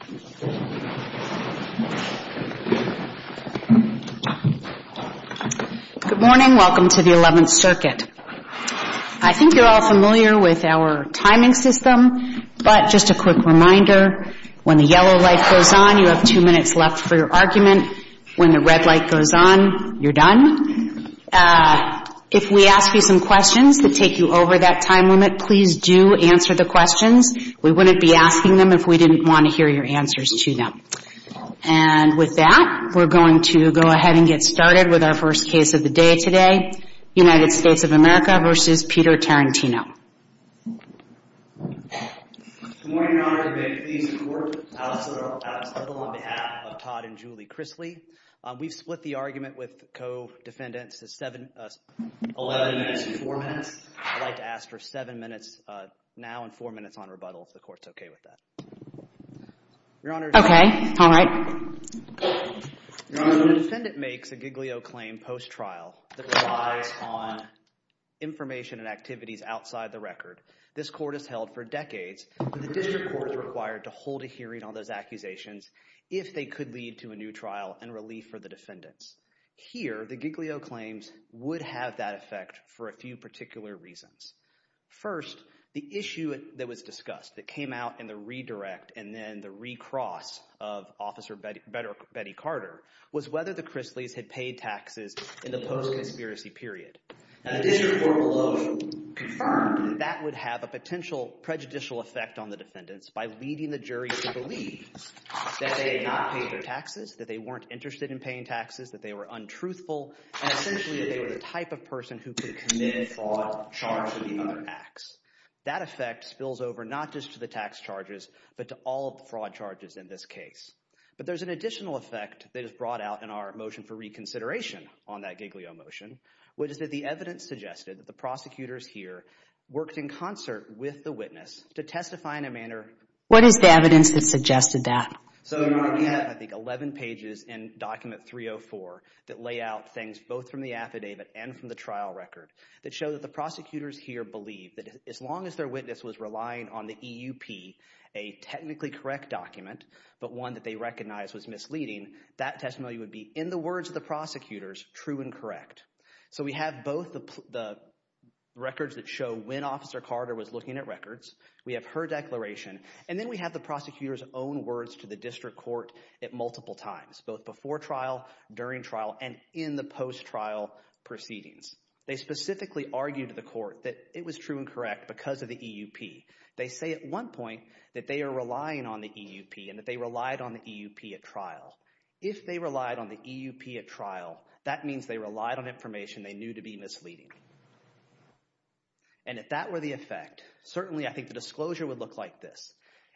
Good morning. Welcome to the 11th Circuit. I think you're all familiar with our timing system, but just a quick reminder, when the yellow light goes on, you have two minutes left for your argument. When the red light goes on, you're done. If we ask you some questions that take you over that time limit, please do answer the questions. We wouldn't be asking them if we didn't want to hear your answers to them. And with that, we're going to go ahead and get started with our first case of the day today, United States of America versus Peter Tarantino. Good morning, Your Honor. Good day to you, Your Court. I'm Alex Edel on behalf of Todd and Julie Chrisley. We've split the argument with co-defendants to 11 minutes and 4 minutes. I'd like to ask for 7 minutes now and 4 minutes on rebuttal if the Court's okay with that. Your Honor, the defendant makes a Giglio claim post-trial that relies on information and activities outside the record. This Court has held for decades, but the District Court is required to hold a hearing on those accusations if they could lead to a new trial and relief for the defendants. Here, the Giglio claims would have that effect for a few particular reasons. First, the issue that was discussed that came out in the redirect and then the recross of Officer Betty Carter was whether the Chrisleys had paid taxes in the post-conspiracy period. And the District Court below confirmed that that would have a potential prejudicial effect on the defendants by leading the jury to believe that they had not paid their taxes, that they weren't interested in paying taxes, that they were untruthful, and essentially that they were the type of person who could commit fraud, charge, or the other acts. That effect spills over not just to the tax charges, but to all of the fraud charges in this case. But there's an additional effect that is brought out in our motion for reconsideration on that Giglio motion, which is that the evidence suggested that the prosecutors here worked in concert with the witness to testify in a manner... What is the evidence that suggested that? So you have, I think, 11 pages in Document 304 that lay out things both from the affidavit and from the trial record that show that the prosecutors here believe that as long as their witness was relying on the EUP, a technically correct document, but one that they recognized was misleading, that testimony would be, in the words of the prosecutors, true and correct. So we have both the records that show when Officer Carter was looking at records, we have the prosecutor's own words to the district court at multiple times, both before trial, during trial, and in the post-trial proceedings. They specifically argued to the court that it was true and correct because of the EUP. They say at one point that they are relying on the EUP and that they relied on the EUP at trial. If they relied on the EUP at trial, that means they relied on information they knew to be misleading. And if that were the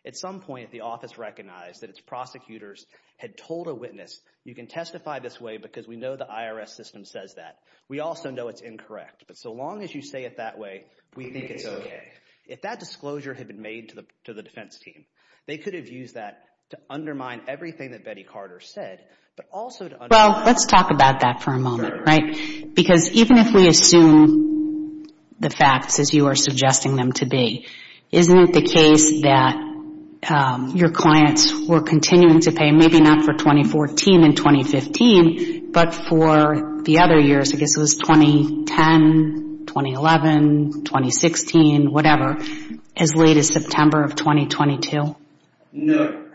At some point, the office recognized that its prosecutors had told a witness, you can testify this way because we know the IRS system says that. We also know it's incorrect, but so long as you say it that way, we think it's okay. If that disclosure had been made to the defense team, they could have used that to undermine everything that Betty Carter said, but also to undermine... Well, let's talk about that for a moment, right? Because even if we assume the facts as you are suggesting them to be, isn't it the case that your clients were continuing to pay, maybe not for 2014 and 2015, but for the other years, I guess it was 2010, 2011, 2016, whatever, as late as September of 2022? No.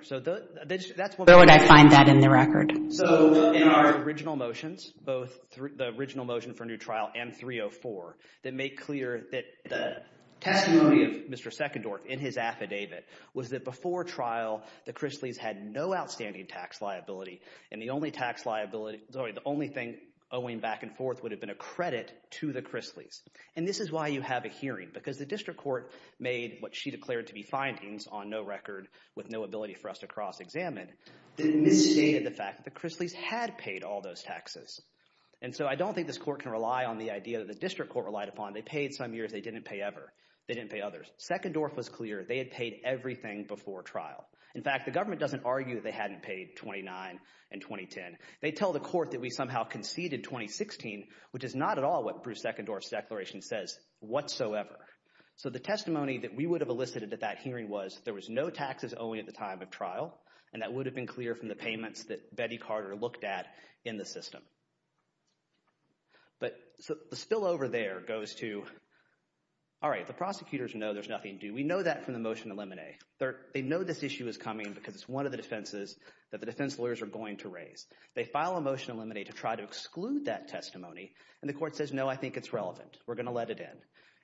Where would I find that in the record? So in our original motions, both the original motion for new trial and 304, that make clear that the testimony of Mr. Seckendorf in his affidavit was that before trial, the Chrisleys had no outstanding tax liability, and the only tax liability, sorry, the only thing owing back and forth would have been a credit to the Chrisleys. And this is why you have a hearing, because the district court made what she declared to be findings on no record with no ability for us to cross-examine, that misstated the fact that the Chrisleys had paid all those taxes. And so I don't think this court can rely on the idea that the district court relied upon. They paid some years. They didn't pay ever. They didn't pay others. Seckendorf was clear. They had paid everything before trial. In fact, the government doesn't argue they hadn't paid 2009 and 2010. They tell the court that we somehow conceded 2016, which is not at all what Bruce Seckendorf's declaration says whatsoever. So the testimony that we would have elicited at that hearing was there was no taxes owing at the time of trial, and that would have been clear from the payments that Betty Carter looked at in the system. But the spillover there goes to, all right, the prosecutors know there's nothing due. We know that from the motion to eliminate. They know this issue is coming because it's one of the defenses that the defense lawyers are going to raise. They file a motion to eliminate to try to exclude that testimony, and the court says, no, I think it's relevant. We're going to let it in.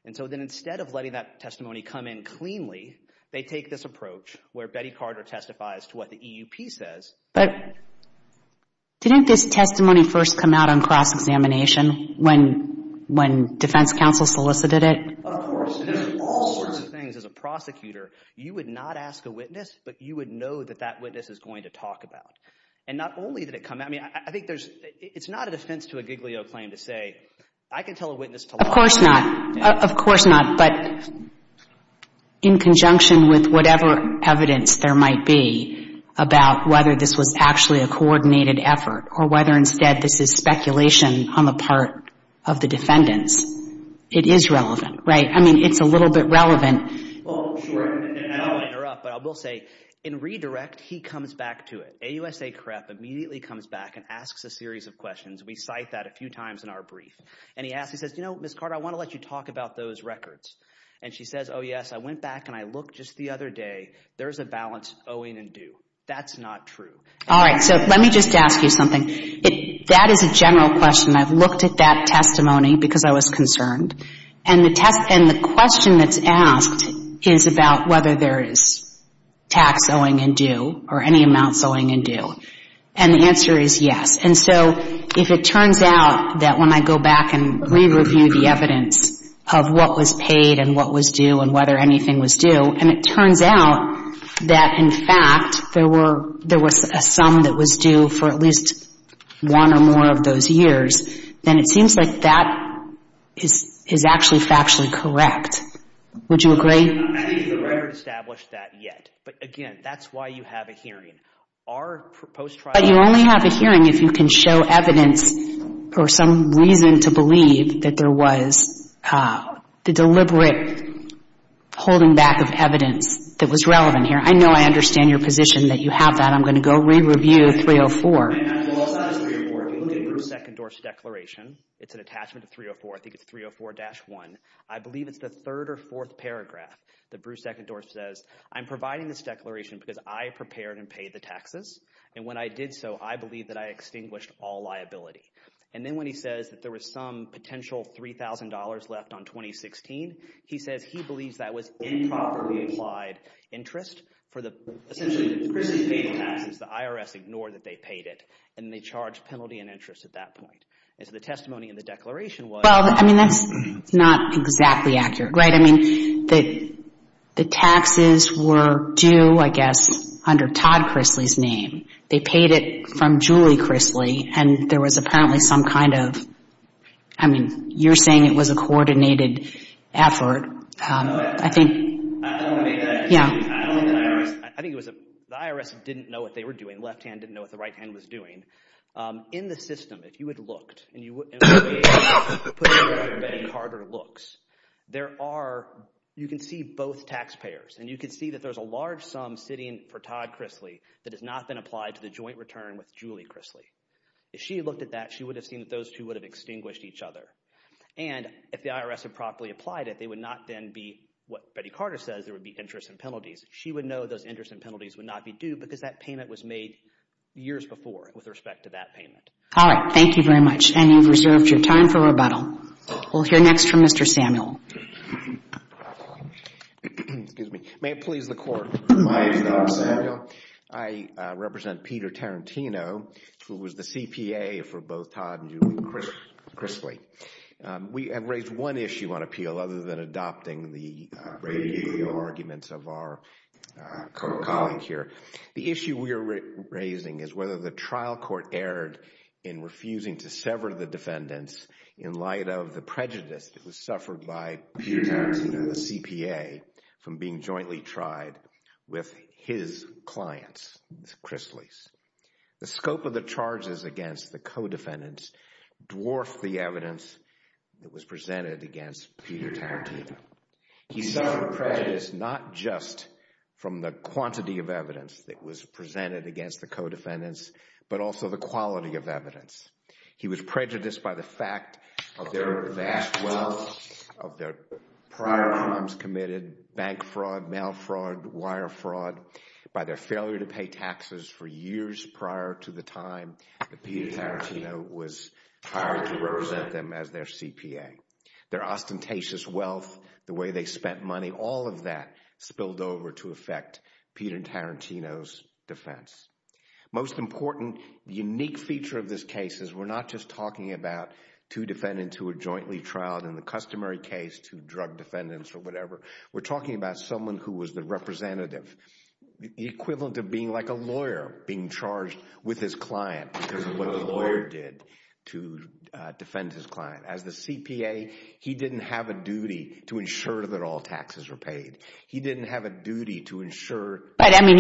And so then instead of letting that testimony come in cleanly, they take this approach where Betty Carter testifies to what the EUP says. But didn't this testimony first come out on cross-examination when defense counsel solicited it? Of course. And in all sorts of things, as a prosecutor, you would not ask a witness, but you would know that that witness is going to talk about. And not only did it come out – I mean, I think there's – it's not a defense to a Giglio claim to say, I can tell a witness to lie. Of course not. Of course not. But in conjunction with whatever evidence there might be about whether this was actually a coordinated effort or whether instead this is speculation on the part of the defendants, it is relevant, right? I mean, it's a little bit relevant. Well, sure. And I don't want to interrupt, but I will say, in redirect, he comes back to it. AUSA CREP immediately comes back and asks a series of questions. We cite that a few times in our brief. And he asks – he says, you know, Ms. Carter, I want to let you talk about those records. And she says, oh, yes, I went back and I looked just the other day. There's a balance owing and due. That's not true. All right. So let me just ask you something. That is a general question. I've looked at that testimony because I was concerned. And the question that's asked is about whether there is tax owing and due or any amounts owing and due. And the answer is yes. And so if it turns out that when I go back and re-review the evidence of what was paid and what was due and whether anything was due, and it turns out that, in fact, there were – there was a sum that was due for at least one or more of those years, then it seems like that is actually factually correct. Would you agree? I think we haven't established that yet. But, again, that's why you have a hearing. Our proposed trial – But you only have a hearing if you can show evidence or some reason to believe that there was the deliberate holding back of evidence that was relevant here. I know I understand your position that you have that. I'm going to go re-review 304. Well, it's not just 304. If you look at Bruce Eckendorf's declaration, it's an attachment of 304. I think it's 304-1. I believe it's the third or fourth paragraph that Bruce Eckendorf says, I'm providing this declaration because I prepared and paid the taxes. And when I did so, I believe that I extinguished all liability. And then when Chrisley says that there was some potential $3,000 left on 2016, he says he believes that was improperly applied interest for the – essentially, Chrisley paid the taxes. The IRS ignored that they paid it. And they charged penalty and interest at that point. And so the testimony in the declaration was – Well, I mean, that's not exactly accurate, right? I mean, the taxes were due, I guess, under Todd Chrisley's name. They paid it from Julie Chrisley. And there was apparently some kind of – I mean, you're saying it was a coordinated effort. I think – I don't want to make that excuse. I don't think the IRS – I think it was a – the IRS didn't know what they were doing. Left-hand didn't know what the right-hand was doing. In the system, if you had looked and you – and put it in the way that Betty Carter looks, there are – you can see both taxpayers. And you can see that there's a large sum sitting for Todd Chrisley that has not been applied to the joint return with Julie Chrisley. If she had looked at that, she would have seen that those two would have extinguished each other. And if the IRS had properly applied it, they would not then be what Betty Carter says there would be interest and penalties. She would know those interest and penalties would not be due because that payment was made years before with respect to that payment. All right. Thank you very much. And you've reserved your time for rebuttal. We'll hear next from Mr. Samuel. May it please the Court. My name is Dr. Samuel. I represent Peter Tarantino, who was the CPA for both Todd and Julie Chrisley. We have raised one issue on appeal other than adopting the radio arguments of our colleague here. The issue we are raising is whether the trial court erred in refusing to sever the defendants in light of the prejudice that was suffered by Peter Tarantino, the CPA, from being jointly tried with his clients, Chrisleys. The scope of the charges against the co-defendants dwarfed the evidence that was presented against Peter Tarantino. He suffered prejudice not just from the quantity of evidence that was presented against the co-defendants, but also the quality of evidence. He was prejudiced by the fact of their vast wealth, of their prior crimes committed, bank fraud, mail fraud, wire fraud, by their failure to pay taxes for years prior to the time that Peter Tarantino was hired to represent them as their CPA. Their ostentatious wealth, the way they spent money, all of that spilled over to affect Peter Tarantino's defense. Most important, the unique feature of this case is we are not just talking about two defendants who were jointly trialed in the customary case to drug defendants or whatever. We are talking about someone who was the representative, the equivalent of being like a lawyer, being charged with his client because of what the lawyer did to defend his client. As the CPA, he did not have a duty to ensure that all taxes were paid. He did not have a duty to ensure... And we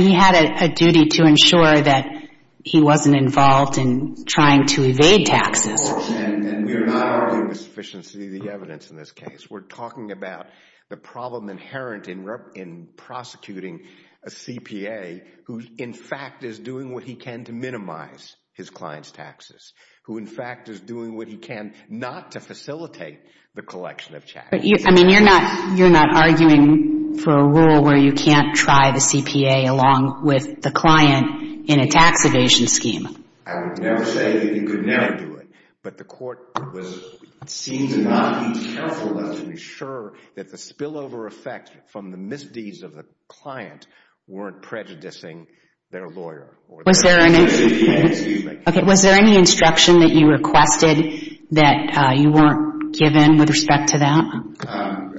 are not arguing the sufficiency of the evidence in this case. We are talking about the problem inherent in prosecuting a CPA who, in fact, is doing what he can to minimize his client's taxes, who, in fact, is doing what he can not to facilitate the collection of taxes. But, I mean, you are not arguing for a rule where you can't try the CPA along with the client in a tax evasion scheme? I would never say that you could never do it, but the court was seen to not be careful enough to ensure that the spillover effect from the misdeeds of the client weren't prejudicing their lawyer. Was there any instruction that you requested that you weren't given with respect to that? Our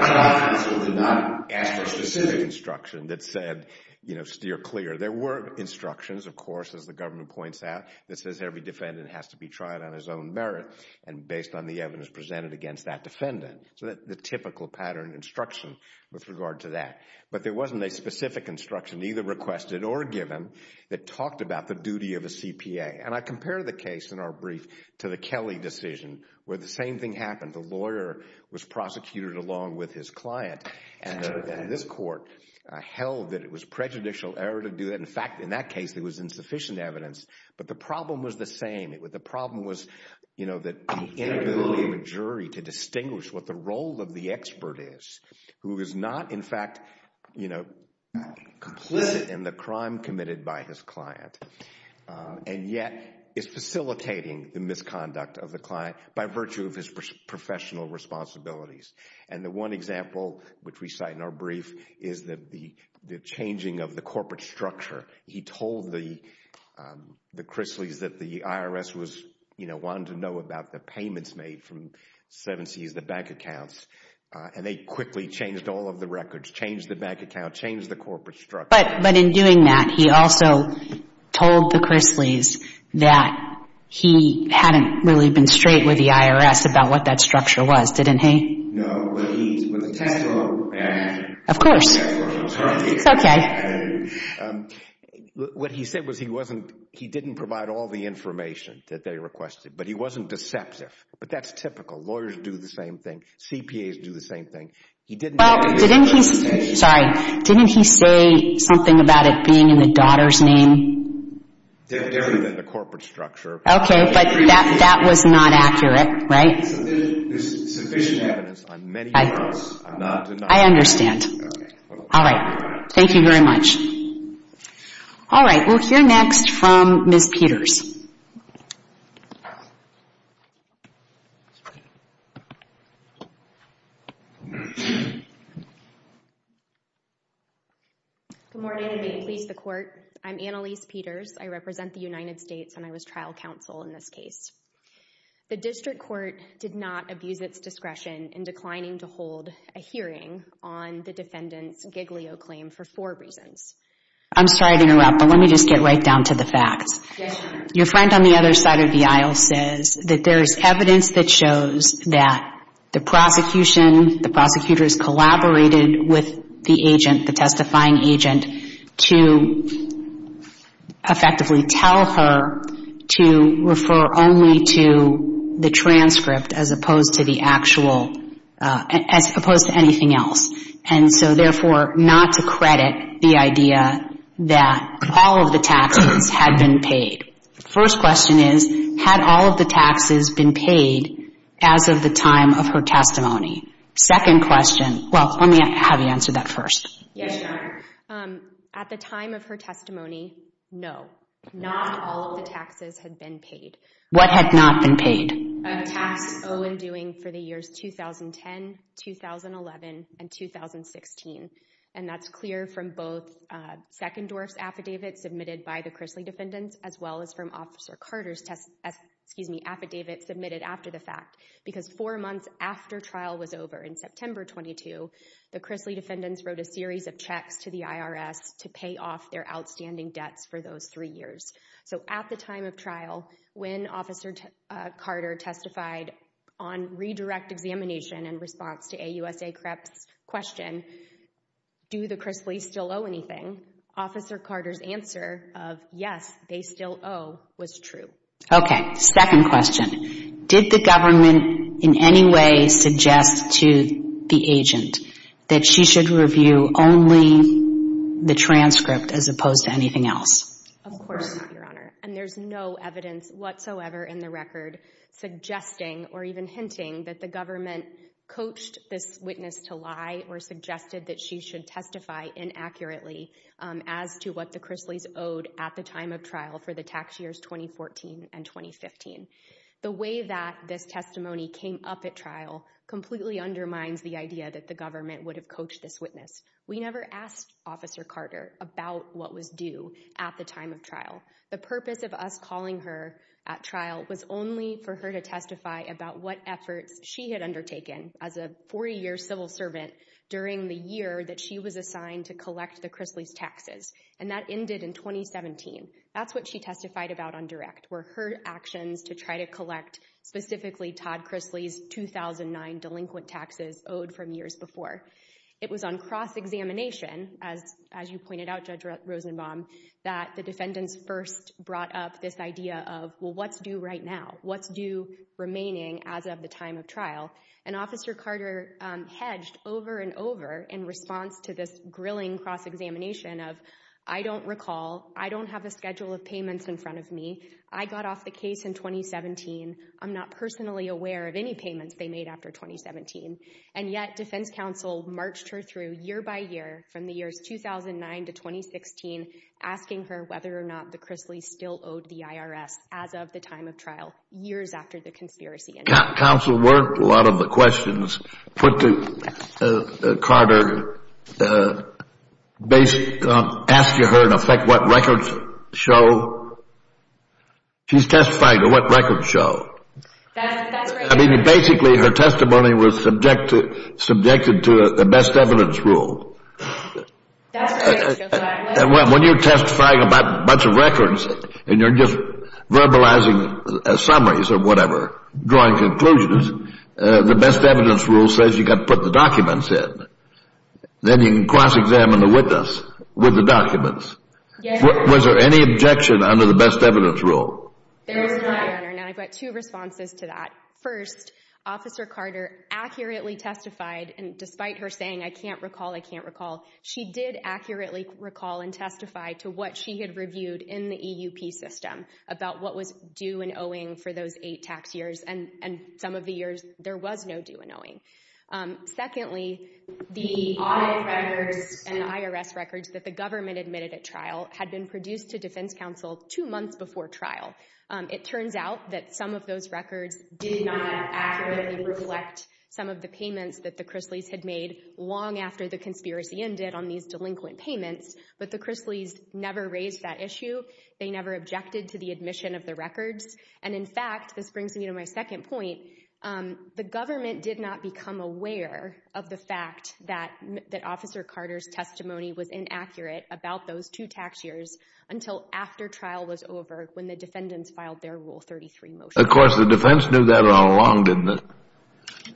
trial counsel did not ask for specific instruction that said, you know, steer clear. There were instructions, of course, as the government points out, that says every defendant has to be tried on his own merit and based on the evidence presented against that defendant. So the typical pattern instruction with regard to that. But there wasn't a specific instruction either requested or given that talked about the duty of a CPA. And I compare the case in our brief to the Kelly decision where the same thing happened. The lawyer was prosecuted along with his client and this court held that it was prejudicial error to do that. In fact, in that case, there was insufficient evidence, but the problem was the same. The problem was, you know, the inability of a jury to distinguish what the role of the expert is who is not, in fact, you know, complicit in the crime committed by his client and yet is facilitating the misconduct of the client by virtue of his professional responsibilities. And the one example which we cite in our brief is the changing of the corporate structure. He told the Chrisleys that the IRS was, you know, wanting to know about the payments made from 7Cs, the bank accounts, and they quickly changed all of the records, changed the bank account, changed the corporate structure. But in doing that, he also told the Chrisleys that he hadn't really been straight with the IRS about what that structure was, didn't he? No. But he, with the technical, and of course, it's okay. What he said was he wasn't, he didn't provide all the information that they requested, but he wasn't deceptive. But that's typical. Lawyers do the same thing. CPAs do the same thing. He didn't. Well, didn't he, sorry, didn't he say something about it being in the daughter's name? Different than the corporate structure. Okay. But that was not accurate, right? There's sufficient evidence on many fronts. I'm not denying it. I understand. Okay. All right. Thank you very much. All right. We'll hear next from Ms. Peters. Good morning, and may it please the Court. I'm Annalise Peters. I represent the United States, and I was trial counsel in this case. The district court did not abuse its discretion in declining to hold a hearing on the defendant's Giglio claim for four reasons. I'm sorry to interrupt, but let me just get right down to the facts. Yes, ma'am. Your friend on the other side of the aisle says that there is evidence that shows that the prosecution, the prosecutors collaborated with the agent, the testifying agent, to effectively tell her to refer only to the transcript as opposed to the actual, as opposed to anything else. And so therefore, not to credit the idea that all of the taxes had been paid. First question is, had all of the taxes been paid as of the time of her testimony? Second question, well, let me have you answer that first. Yes, Your Honor. At the time of her testimony, no. Not all of the taxes had been paid. What had not been paid? A tax so in doing for the years 2010, 2011, and 2016. And that's clear from both Second Dwarf's affidavit submitted by the Chrisley defendants, as well as from Officer Carter's affidavit submitted after the fact. Because four months after trial was over, in September 22, the Chrisley defendants wrote a series of checks to the IRS to pay off their outstanding debts for those three years. So at the time of trial, when Officer Carter testified on redirect examination in response to AUSA CREP's question, do the Chrisley's still owe anything? Officer Carter's answer of, yes, they still owe, was true. Okay, second question. Did the government in any way suggest to the agent that she should review only the transcript as opposed to anything else? Of course, Your Honor. And there's no evidence whatsoever in the record suggesting or even hinting that the government coached this witness to lie or suggested that she should testify inaccurately as to what the Chrisley's owed at the time of trial for the tax years 2014 and 2015. The way that this testimony came up at trial completely undermines the idea that the government would have coached this witness. We never asked Officer Carter about what was due at the time of trial. The purpose of us calling her at trial was only for her to testify about what efforts she had undertaken as a 40-year civil servant during the year that she was assigned to collect the Chrisley's taxes. And that ended in 2017. That's what she testified about on direct, were her actions to try to collect specifically Todd Chrisley's 2009 delinquent taxes owed from years before. It was on cross-examination, as you pointed out, Judge Rosenbaum, that the defendants first brought up this idea of, well, what's due right now? What's due remaining as of the time of trial? And Officer Carter hedged over and over in response to this grilling cross-examination of, I don't recall, I don't have a schedule of payments in front of me. I got off the case in 2017. I'm not personally aware of any payments they made after 2017. And yet, defense counsel marched her through year by year, from the years 2009 to 2016, asking her whether or not the Chrisley's still owed the IRS as of the time of trial, years after the conspiracy. Counsel worked a lot of the questions. Put to Carter, ask her in effect what records show. She's testifying to what records show. I mean, basically, her testimony was subjected to the best evidence rule. When you're testifying about a bunch of records, and you're just verbalizing summaries or whatever, drawing conclusions, the best evidence rule says you've got to put the documents in. Then you can cross-examine the witness with the documents. Was there any objection under the best evidence rule? There was none, Your Honor, and I've got two responses to that. First, Officer Carter accurately testified, and despite her saying, I can't recall, I can't recall, she did accurately recall and testify to what she had reviewed in the EUP system, about what was due and owing for those eight tax years, and some of the years there was no due and owing. Secondly, the audit records and the IRS records that the government admitted at trial had been produced to defense counsel two months before trial. It turns out that some of those records did not accurately reflect some of the payments that the Chrisley's had made long after the conspiracy ended on these delinquent payments. But the Chrisley's never raised that issue. They never objected to the admission of the records. And in fact, this brings me to my second point, the government did not become aware of the fact that Officer Carter's testimony was inaccurate about those two tax years until after trial was over, when the defendants filed their Rule 33 motion. Of course, the defense knew that all along, didn't they?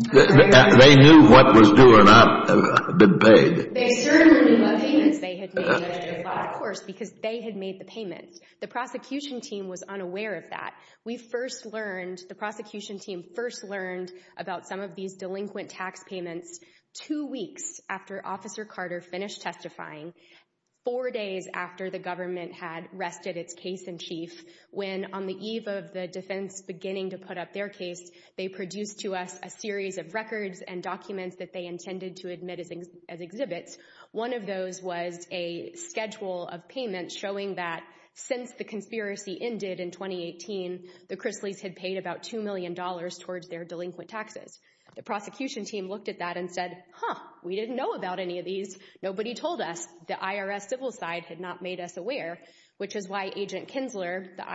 They knew what was due or not had been paid. They certainly knew what payments they had made. Of course, because they had made the payments. The prosecution team was unaware of that. We first learned, the prosecution team first learned about some of these delinquent tax payments two weeks after Officer Carter finished testifying, four days after the government had rested its case in chief, when on the eve of the defense beginning to put up their case, they produced to us a series of records and documents that they intended to admit as exhibits. One of those was a schedule of payments showing that since the conspiracy ended in 2018, the Chrisley's had paid about $2 million towards their delinquent taxes. The prosecution team looked at that and said, huh, we didn't know about any of these. Nobody told us. The IRS civil side had not made us aware, which is why Agent Kinsler, the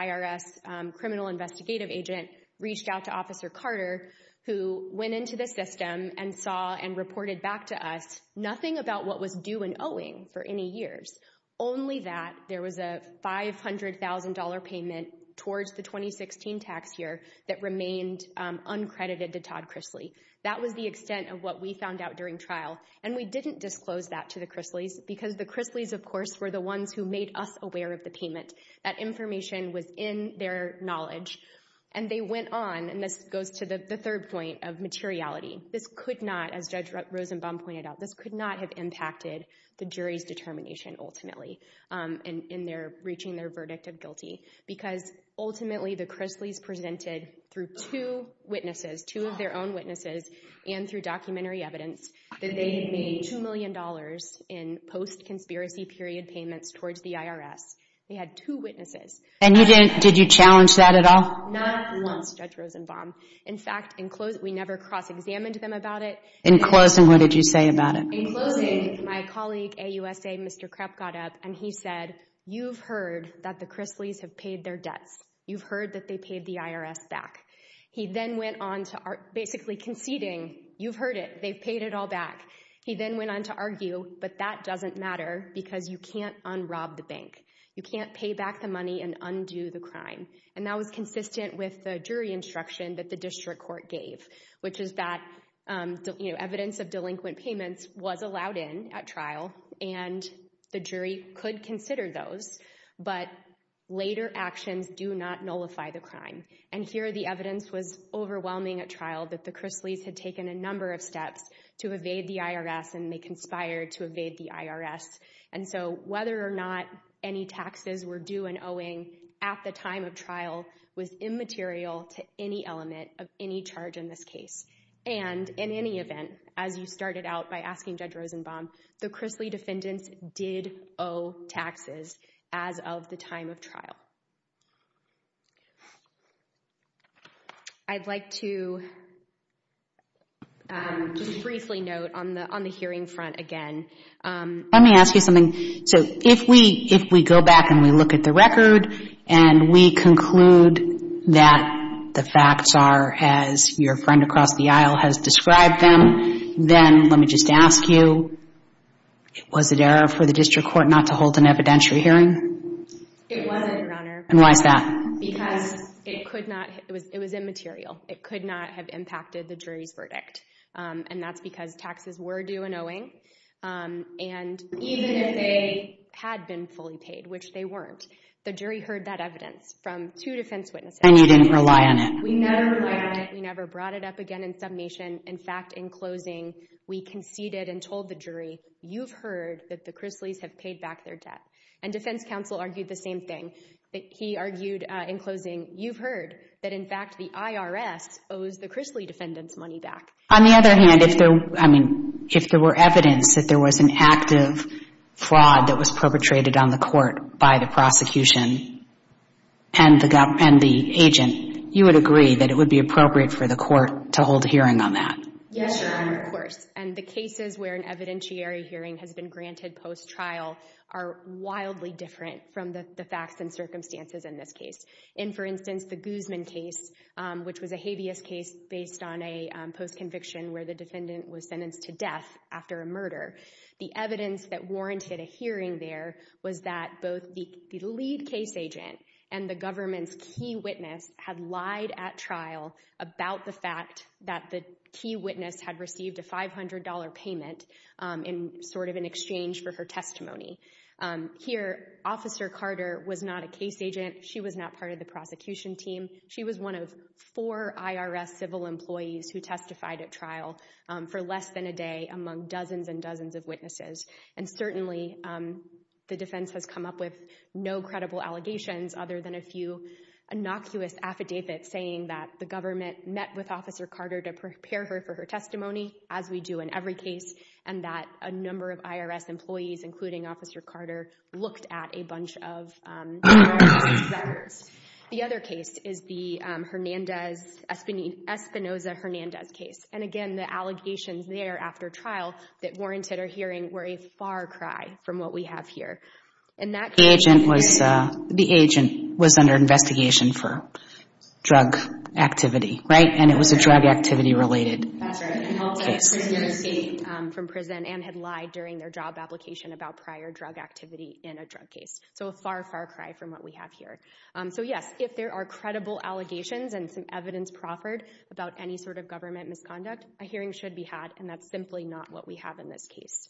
IRS criminal investigative agent, reached out to Officer Carter, who went into the system and saw and reported back to us nothing about what was due and owing for any years, only that there was a $500,000 payment towards the 2016 tax year that remained uncredited to Todd Chrisley. That was the extent of what we found out during trial. And we didn't disclose that to the Chrisleys, because the Chrisleys, of course, were the ones who made us aware of the payment. That information was in their knowledge. And they went on, and this goes to the third point of materiality. This could not, as Judge Rosenbaum pointed out, this could not have impacted the jury's determination ultimately in reaching their verdict of guilty, because ultimately the Chrisleys presented, through two witnesses, two of their own witnesses, and through documentary evidence, that they made $2 million in post-conspiracy period payments towards the IRS. They had two witnesses. And you didn't, did you challenge that at all? Not once, Judge Rosenbaum. In fact, we never cross-examined them about it. In closing, what did you say about it? In closing, my colleague, AUSA, Mr. Krep got up, and he said, you've heard that the Chrisleys have paid their debts. You've heard that they paid the IRS back. He then went on to basically conceding, you've heard it, they've paid it all back. He then went on to argue, but that doesn't matter, because you can't unrob the bank. You can't pay back the money and undo the crime. And that was consistent with the jury instruction that the district court gave, which is that evidence of delinquent payments was allowed in at trial, and the jury could consider those, but later actions do not nullify the crime. And here, the evidence was overwhelming at trial that the Chrisleys had taken a number of steps to evade the IRS, and they conspired to evade the IRS. And so, whether or not any taxes were due and owing at the time of trial was immaterial to any element of any charge in this case. And in any event, as you started out by asking Judge Rosenbaum, the Chrisley defendants did owe taxes as of the time of trial. I'd like to just briefly note on the hearing front again. Let me ask you something. So, if we go back and we look at the record, and we conclude that the facts are as your friend across the aisle has described them, then let me just ask you, was it error for the district court not to hold an evidentiary hearing? It wasn't, Your Honor. And why is that? Because it was immaterial. It could not have impacted the jury's verdict. And that's because taxes were due and owing, and even if they had been fully paid, which they weren't, the jury heard that evidence from two defense witnesses. And you didn't rely on it. We never relied on it. We never brought it up again in submission. In fact, in closing, we conceded and told the jury, you've heard that the Chrisleys have paid back their debt. And defense counsel argued the same thing. He argued in closing, you've heard that, in fact, the IRS owes the Chrisley defendants money back. On the other hand, if there were evidence that there was an active fraud that was perpetrated on the court by the prosecution and the agent, you would agree that it would be appropriate for the court to hold a hearing on that? Yes, Your Honor, of course. And the cases where an evidentiary hearing has been granted post-trial are wildly different from the facts and circumstances in this case. In, for instance, the Guzman case, which was a habeas case based on a post-conviction where the defendant was sentenced to death after a murder, the evidence that warranted a hearing there was that both the lead case agent and the government's key witness had lied at trial about the fact that the key witness had received a $500 payment in sort of an exchange for her testimony. Here, Officer Carter was not a case agent. She was not part of the prosecution team. She was one of four IRS civil employees who testified at trial for less than a day among dozens and dozens of witnesses. And certainly, the defense has come up with no credible allegations other than a few innocuous affidavits saying that the government met with Officer Carter to prepare her for her testimony, as we do in every case, and that a number of IRS employees, including Officer Carter, looked at a bunch of numerous experiments. The other case is the Hernandez-Espinoza-Hernandez case. And again, the allegations there after trial that warranted her hearing were a far cry from what we have here. And that case... The agent was under investigation for drug activity, right? And it was a drug activity-related case. ...from prison and had lied during their job application about prior drug activity in a drug case. So a far, far cry from what we have here. So yes, if there are credible allegations and some evidence proffered about any sort of government misconduct, a hearing should be had, and that's simply not what we have in this case.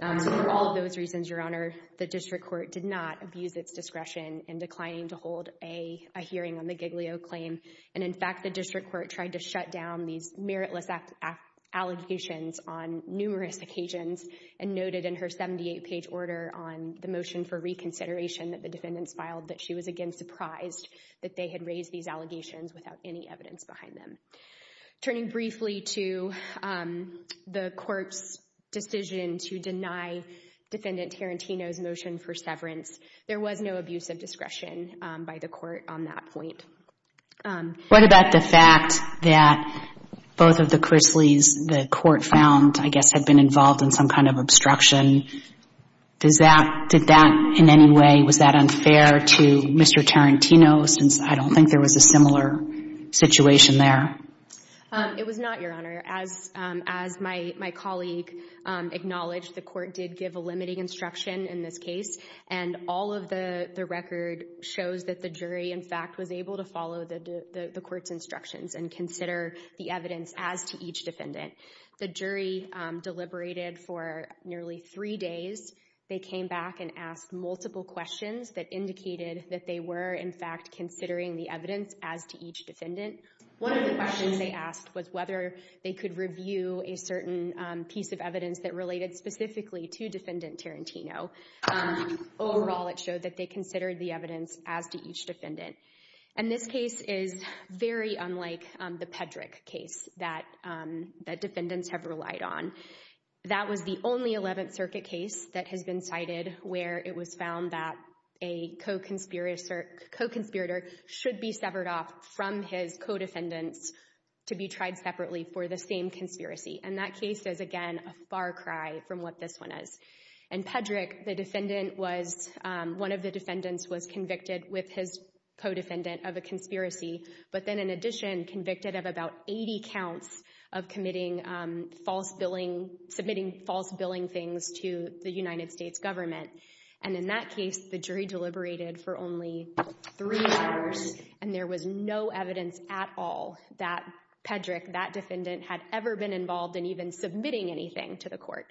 So for all of those reasons, Your Honor, the District Court did not abuse its discretion in declining to hold a hearing on the Giglio claim. And in fact, the District Court tried to shut down these meritless allegations on numerous occasions and noted in her 78-page order on the motion for reconsideration that the defendants filed that she was, again, surprised that they had raised these allegations without any evidence behind them. Turning briefly to the Court's decision to deny Defendant Tarantino's motion for severance, there was no abuse of discretion by the Court on that point. What about the fact that both of the Chrisleys the Court found, I guess, had been involved in some kind of obstruction? Did that in any way... Mr. Tarantino, since I don't think there was a similar situation there? It was not, Your Honor. As my colleague acknowledged, the Court did give a limiting instruction in this case, and all of the record shows that the jury, in fact, was able to follow the Court's instructions and consider the evidence as to each defendant. The jury deliberated for nearly three days. They came back and asked multiple questions that indicated that they were, in fact, considering the evidence as to each defendant. One of the questions they asked was whether they could review a certain piece of evidence that related specifically to Defendant Tarantino. Overall, it showed that they considered the evidence as to each defendant. And this case is very unlike the Pedrick case that defendants have relied on. That was the only Eleventh Circuit case that has been cited where it was found that a co-conspirator should be severed off from his co-defendants to be tried separately for the same conspiracy. And that case is, again, a far cry from what this one is. In Pedrick, one of the defendants was convicted with his co-defendant of a conspiracy, but then in addition convicted of about 80 counts of submitting false billing things to the United States government. And in that case, the jury deliberated for only three hours and there was no evidence at all that Pedrick, that defendant, had ever been involved in even submitting anything to the court.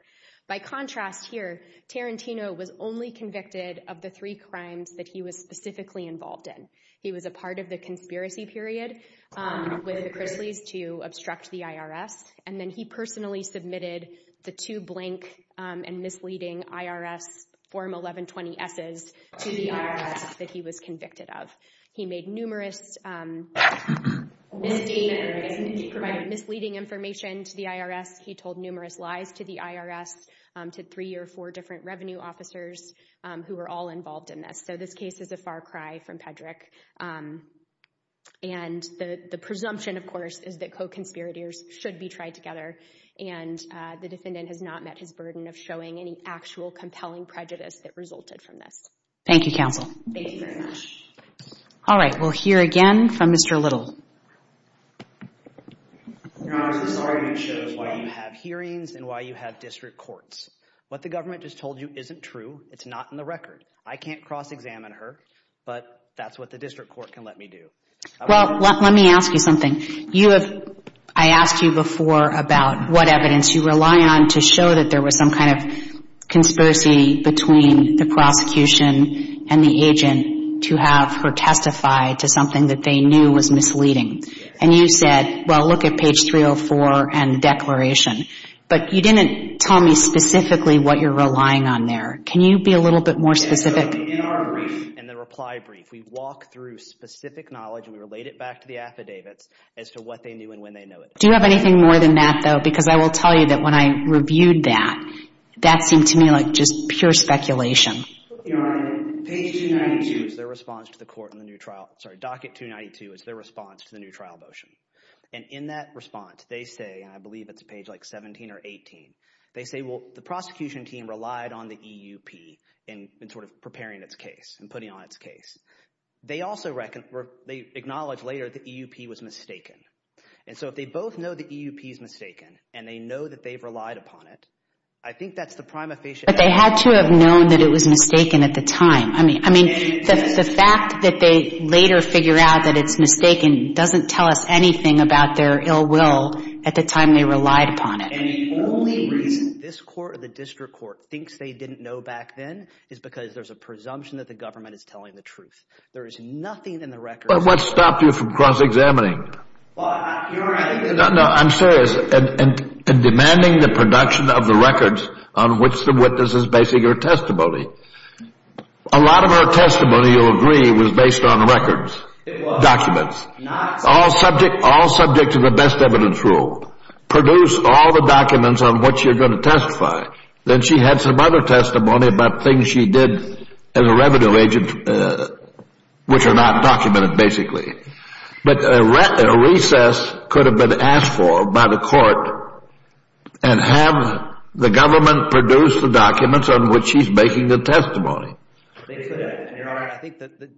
By contrast here, Tarantino was only convicted of the three crimes that he was specifically involved in. He was a part of the conspiracy period with the Chrisleys to obstruct the IRS. And then he personally submitted the two blank and misleading IRS Form 1120-S's to the IRS that he was convicted of. He made numerous misdemeanors. He provided misleading information to the IRS. He told numerous lies to the IRS, to three or four different revenue officers who were all involved in this. And the presumption, of course, is that co-conspirators should be tried together and the defendant has not met his burden of showing any actual compelling prejudice that resulted from this. Thank you, counsel. Thank you very much. All right, we'll hear again from Mr. Little. Your Honor, this argument shows why you have hearings and why you have district courts. What the government just told you isn't true. It's not in the record. I can't cross-examine her, but that's what the district court can let me do. Well, let me ask you something. You have, I asked you before about what evidence you rely on to show that there was some kind of conspiracy between the prosecution and the agent to have her testify to something that they knew was misleading. And you said, well, look at page 304 and the declaration. But you didn't tell me specifically what you're relying on there. Can you be a little bit more specific? In our brief, in the reply brief, if we walk through specific knowledge and we relate it back to the affidavits as to what they knew and when they know it. Do you have anything more than that, though? Because I will tell you that when I reviewed that, that seemed to me like just pure speculation. Your Honor, page 292 is their response to the court in the new trial. Sorry, docket 292 is their response to the new trial motion. And in that response, they say, and I believe it's page like 17 or 18, they say, well, the prosecution team relied on the EUP in sort of preparing its case and putting on its case. They also acknowledge later the EUP was mistaken. And so if they both know the EUP is mistaken and they know that they've relied upon it, I think that's the prima facie evidence. But they had to have known that it was mistaken at the time. I mean, the fact that they later figure out that it's mistaken doesn't tell us anything about their ill will at the time they relied upon it. And the only reason this court or the district court thinks they didn't know back then is because there's a presumption that the government is telling the truth. There is nothing in the records... But what stopped you from cross-examining? No, I'm serious. Demanding the production of the records on which the witness is basing her testimony. A lot of her testimony, you'll agree, was based on records. Documents. All subject to the best evidence rule. Produce all the documents on which you're going to testify. Then she had some other testimony about things she did as a revenue agent which are not documented, basically. But a recess could have been asked for by the court and have the government produce the documents on which she's making the testimony. I think that the...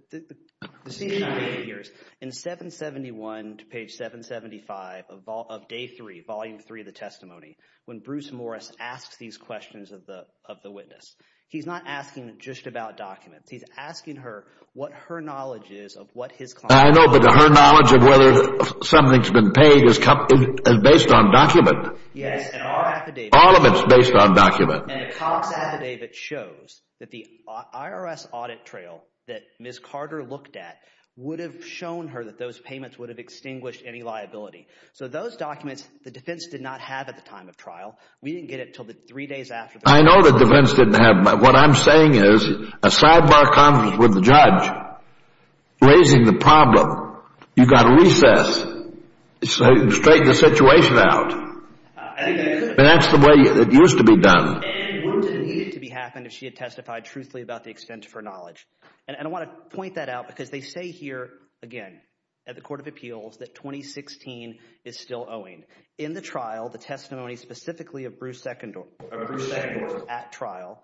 In 771 to page 775 of day 3, volume 3 of the testimony, when Bruce Morris asks these questions of the witness, he's not asking just about documents. He's asking her what her knowledge is of what his client... I know, but her knowledge of whether something's been paid is based on document. Yes, and our affidavit... All of it's based on document. And the Cox affidavit shows that the IRS audit trail that Ms. Carter looked at would have shown her that those payments would have extinguished any liability. So those documents, the defense did not have at the time of trial. We didn't get it until the three days after... I know the defense didn't have, but what I'm saying is a sidebar conference with the judge raising the problem. You've got a recess. Straighten the situation out. That's the way it used to be done. And wouldn't it need to be happened if she had testified truthfully about the extent of her knowledge? And I want to point that out because they say here, again, at the 2016 is still owing. In the trial, the testimony specifically of Bruce Secondore at trial,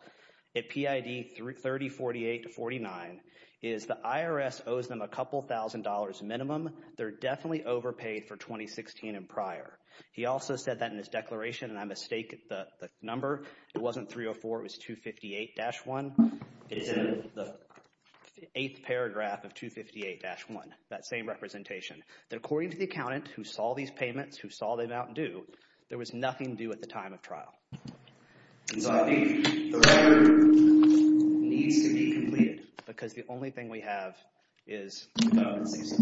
at PID 3048-49 is the IRS owes them a couple thousand dollars minimum. They're definitely overpaid for 2016 and prior. He also said that in his declaration, and I mistake the number. It wasn't 304, it was 258-1. It's in the eighth paragraph of 258-1. That same representation. According to the accountant who saw these payments, who saw the amount due, there was nothing due at the time of trial. So I think the record needs to be completed because the only thing we have is the competencies.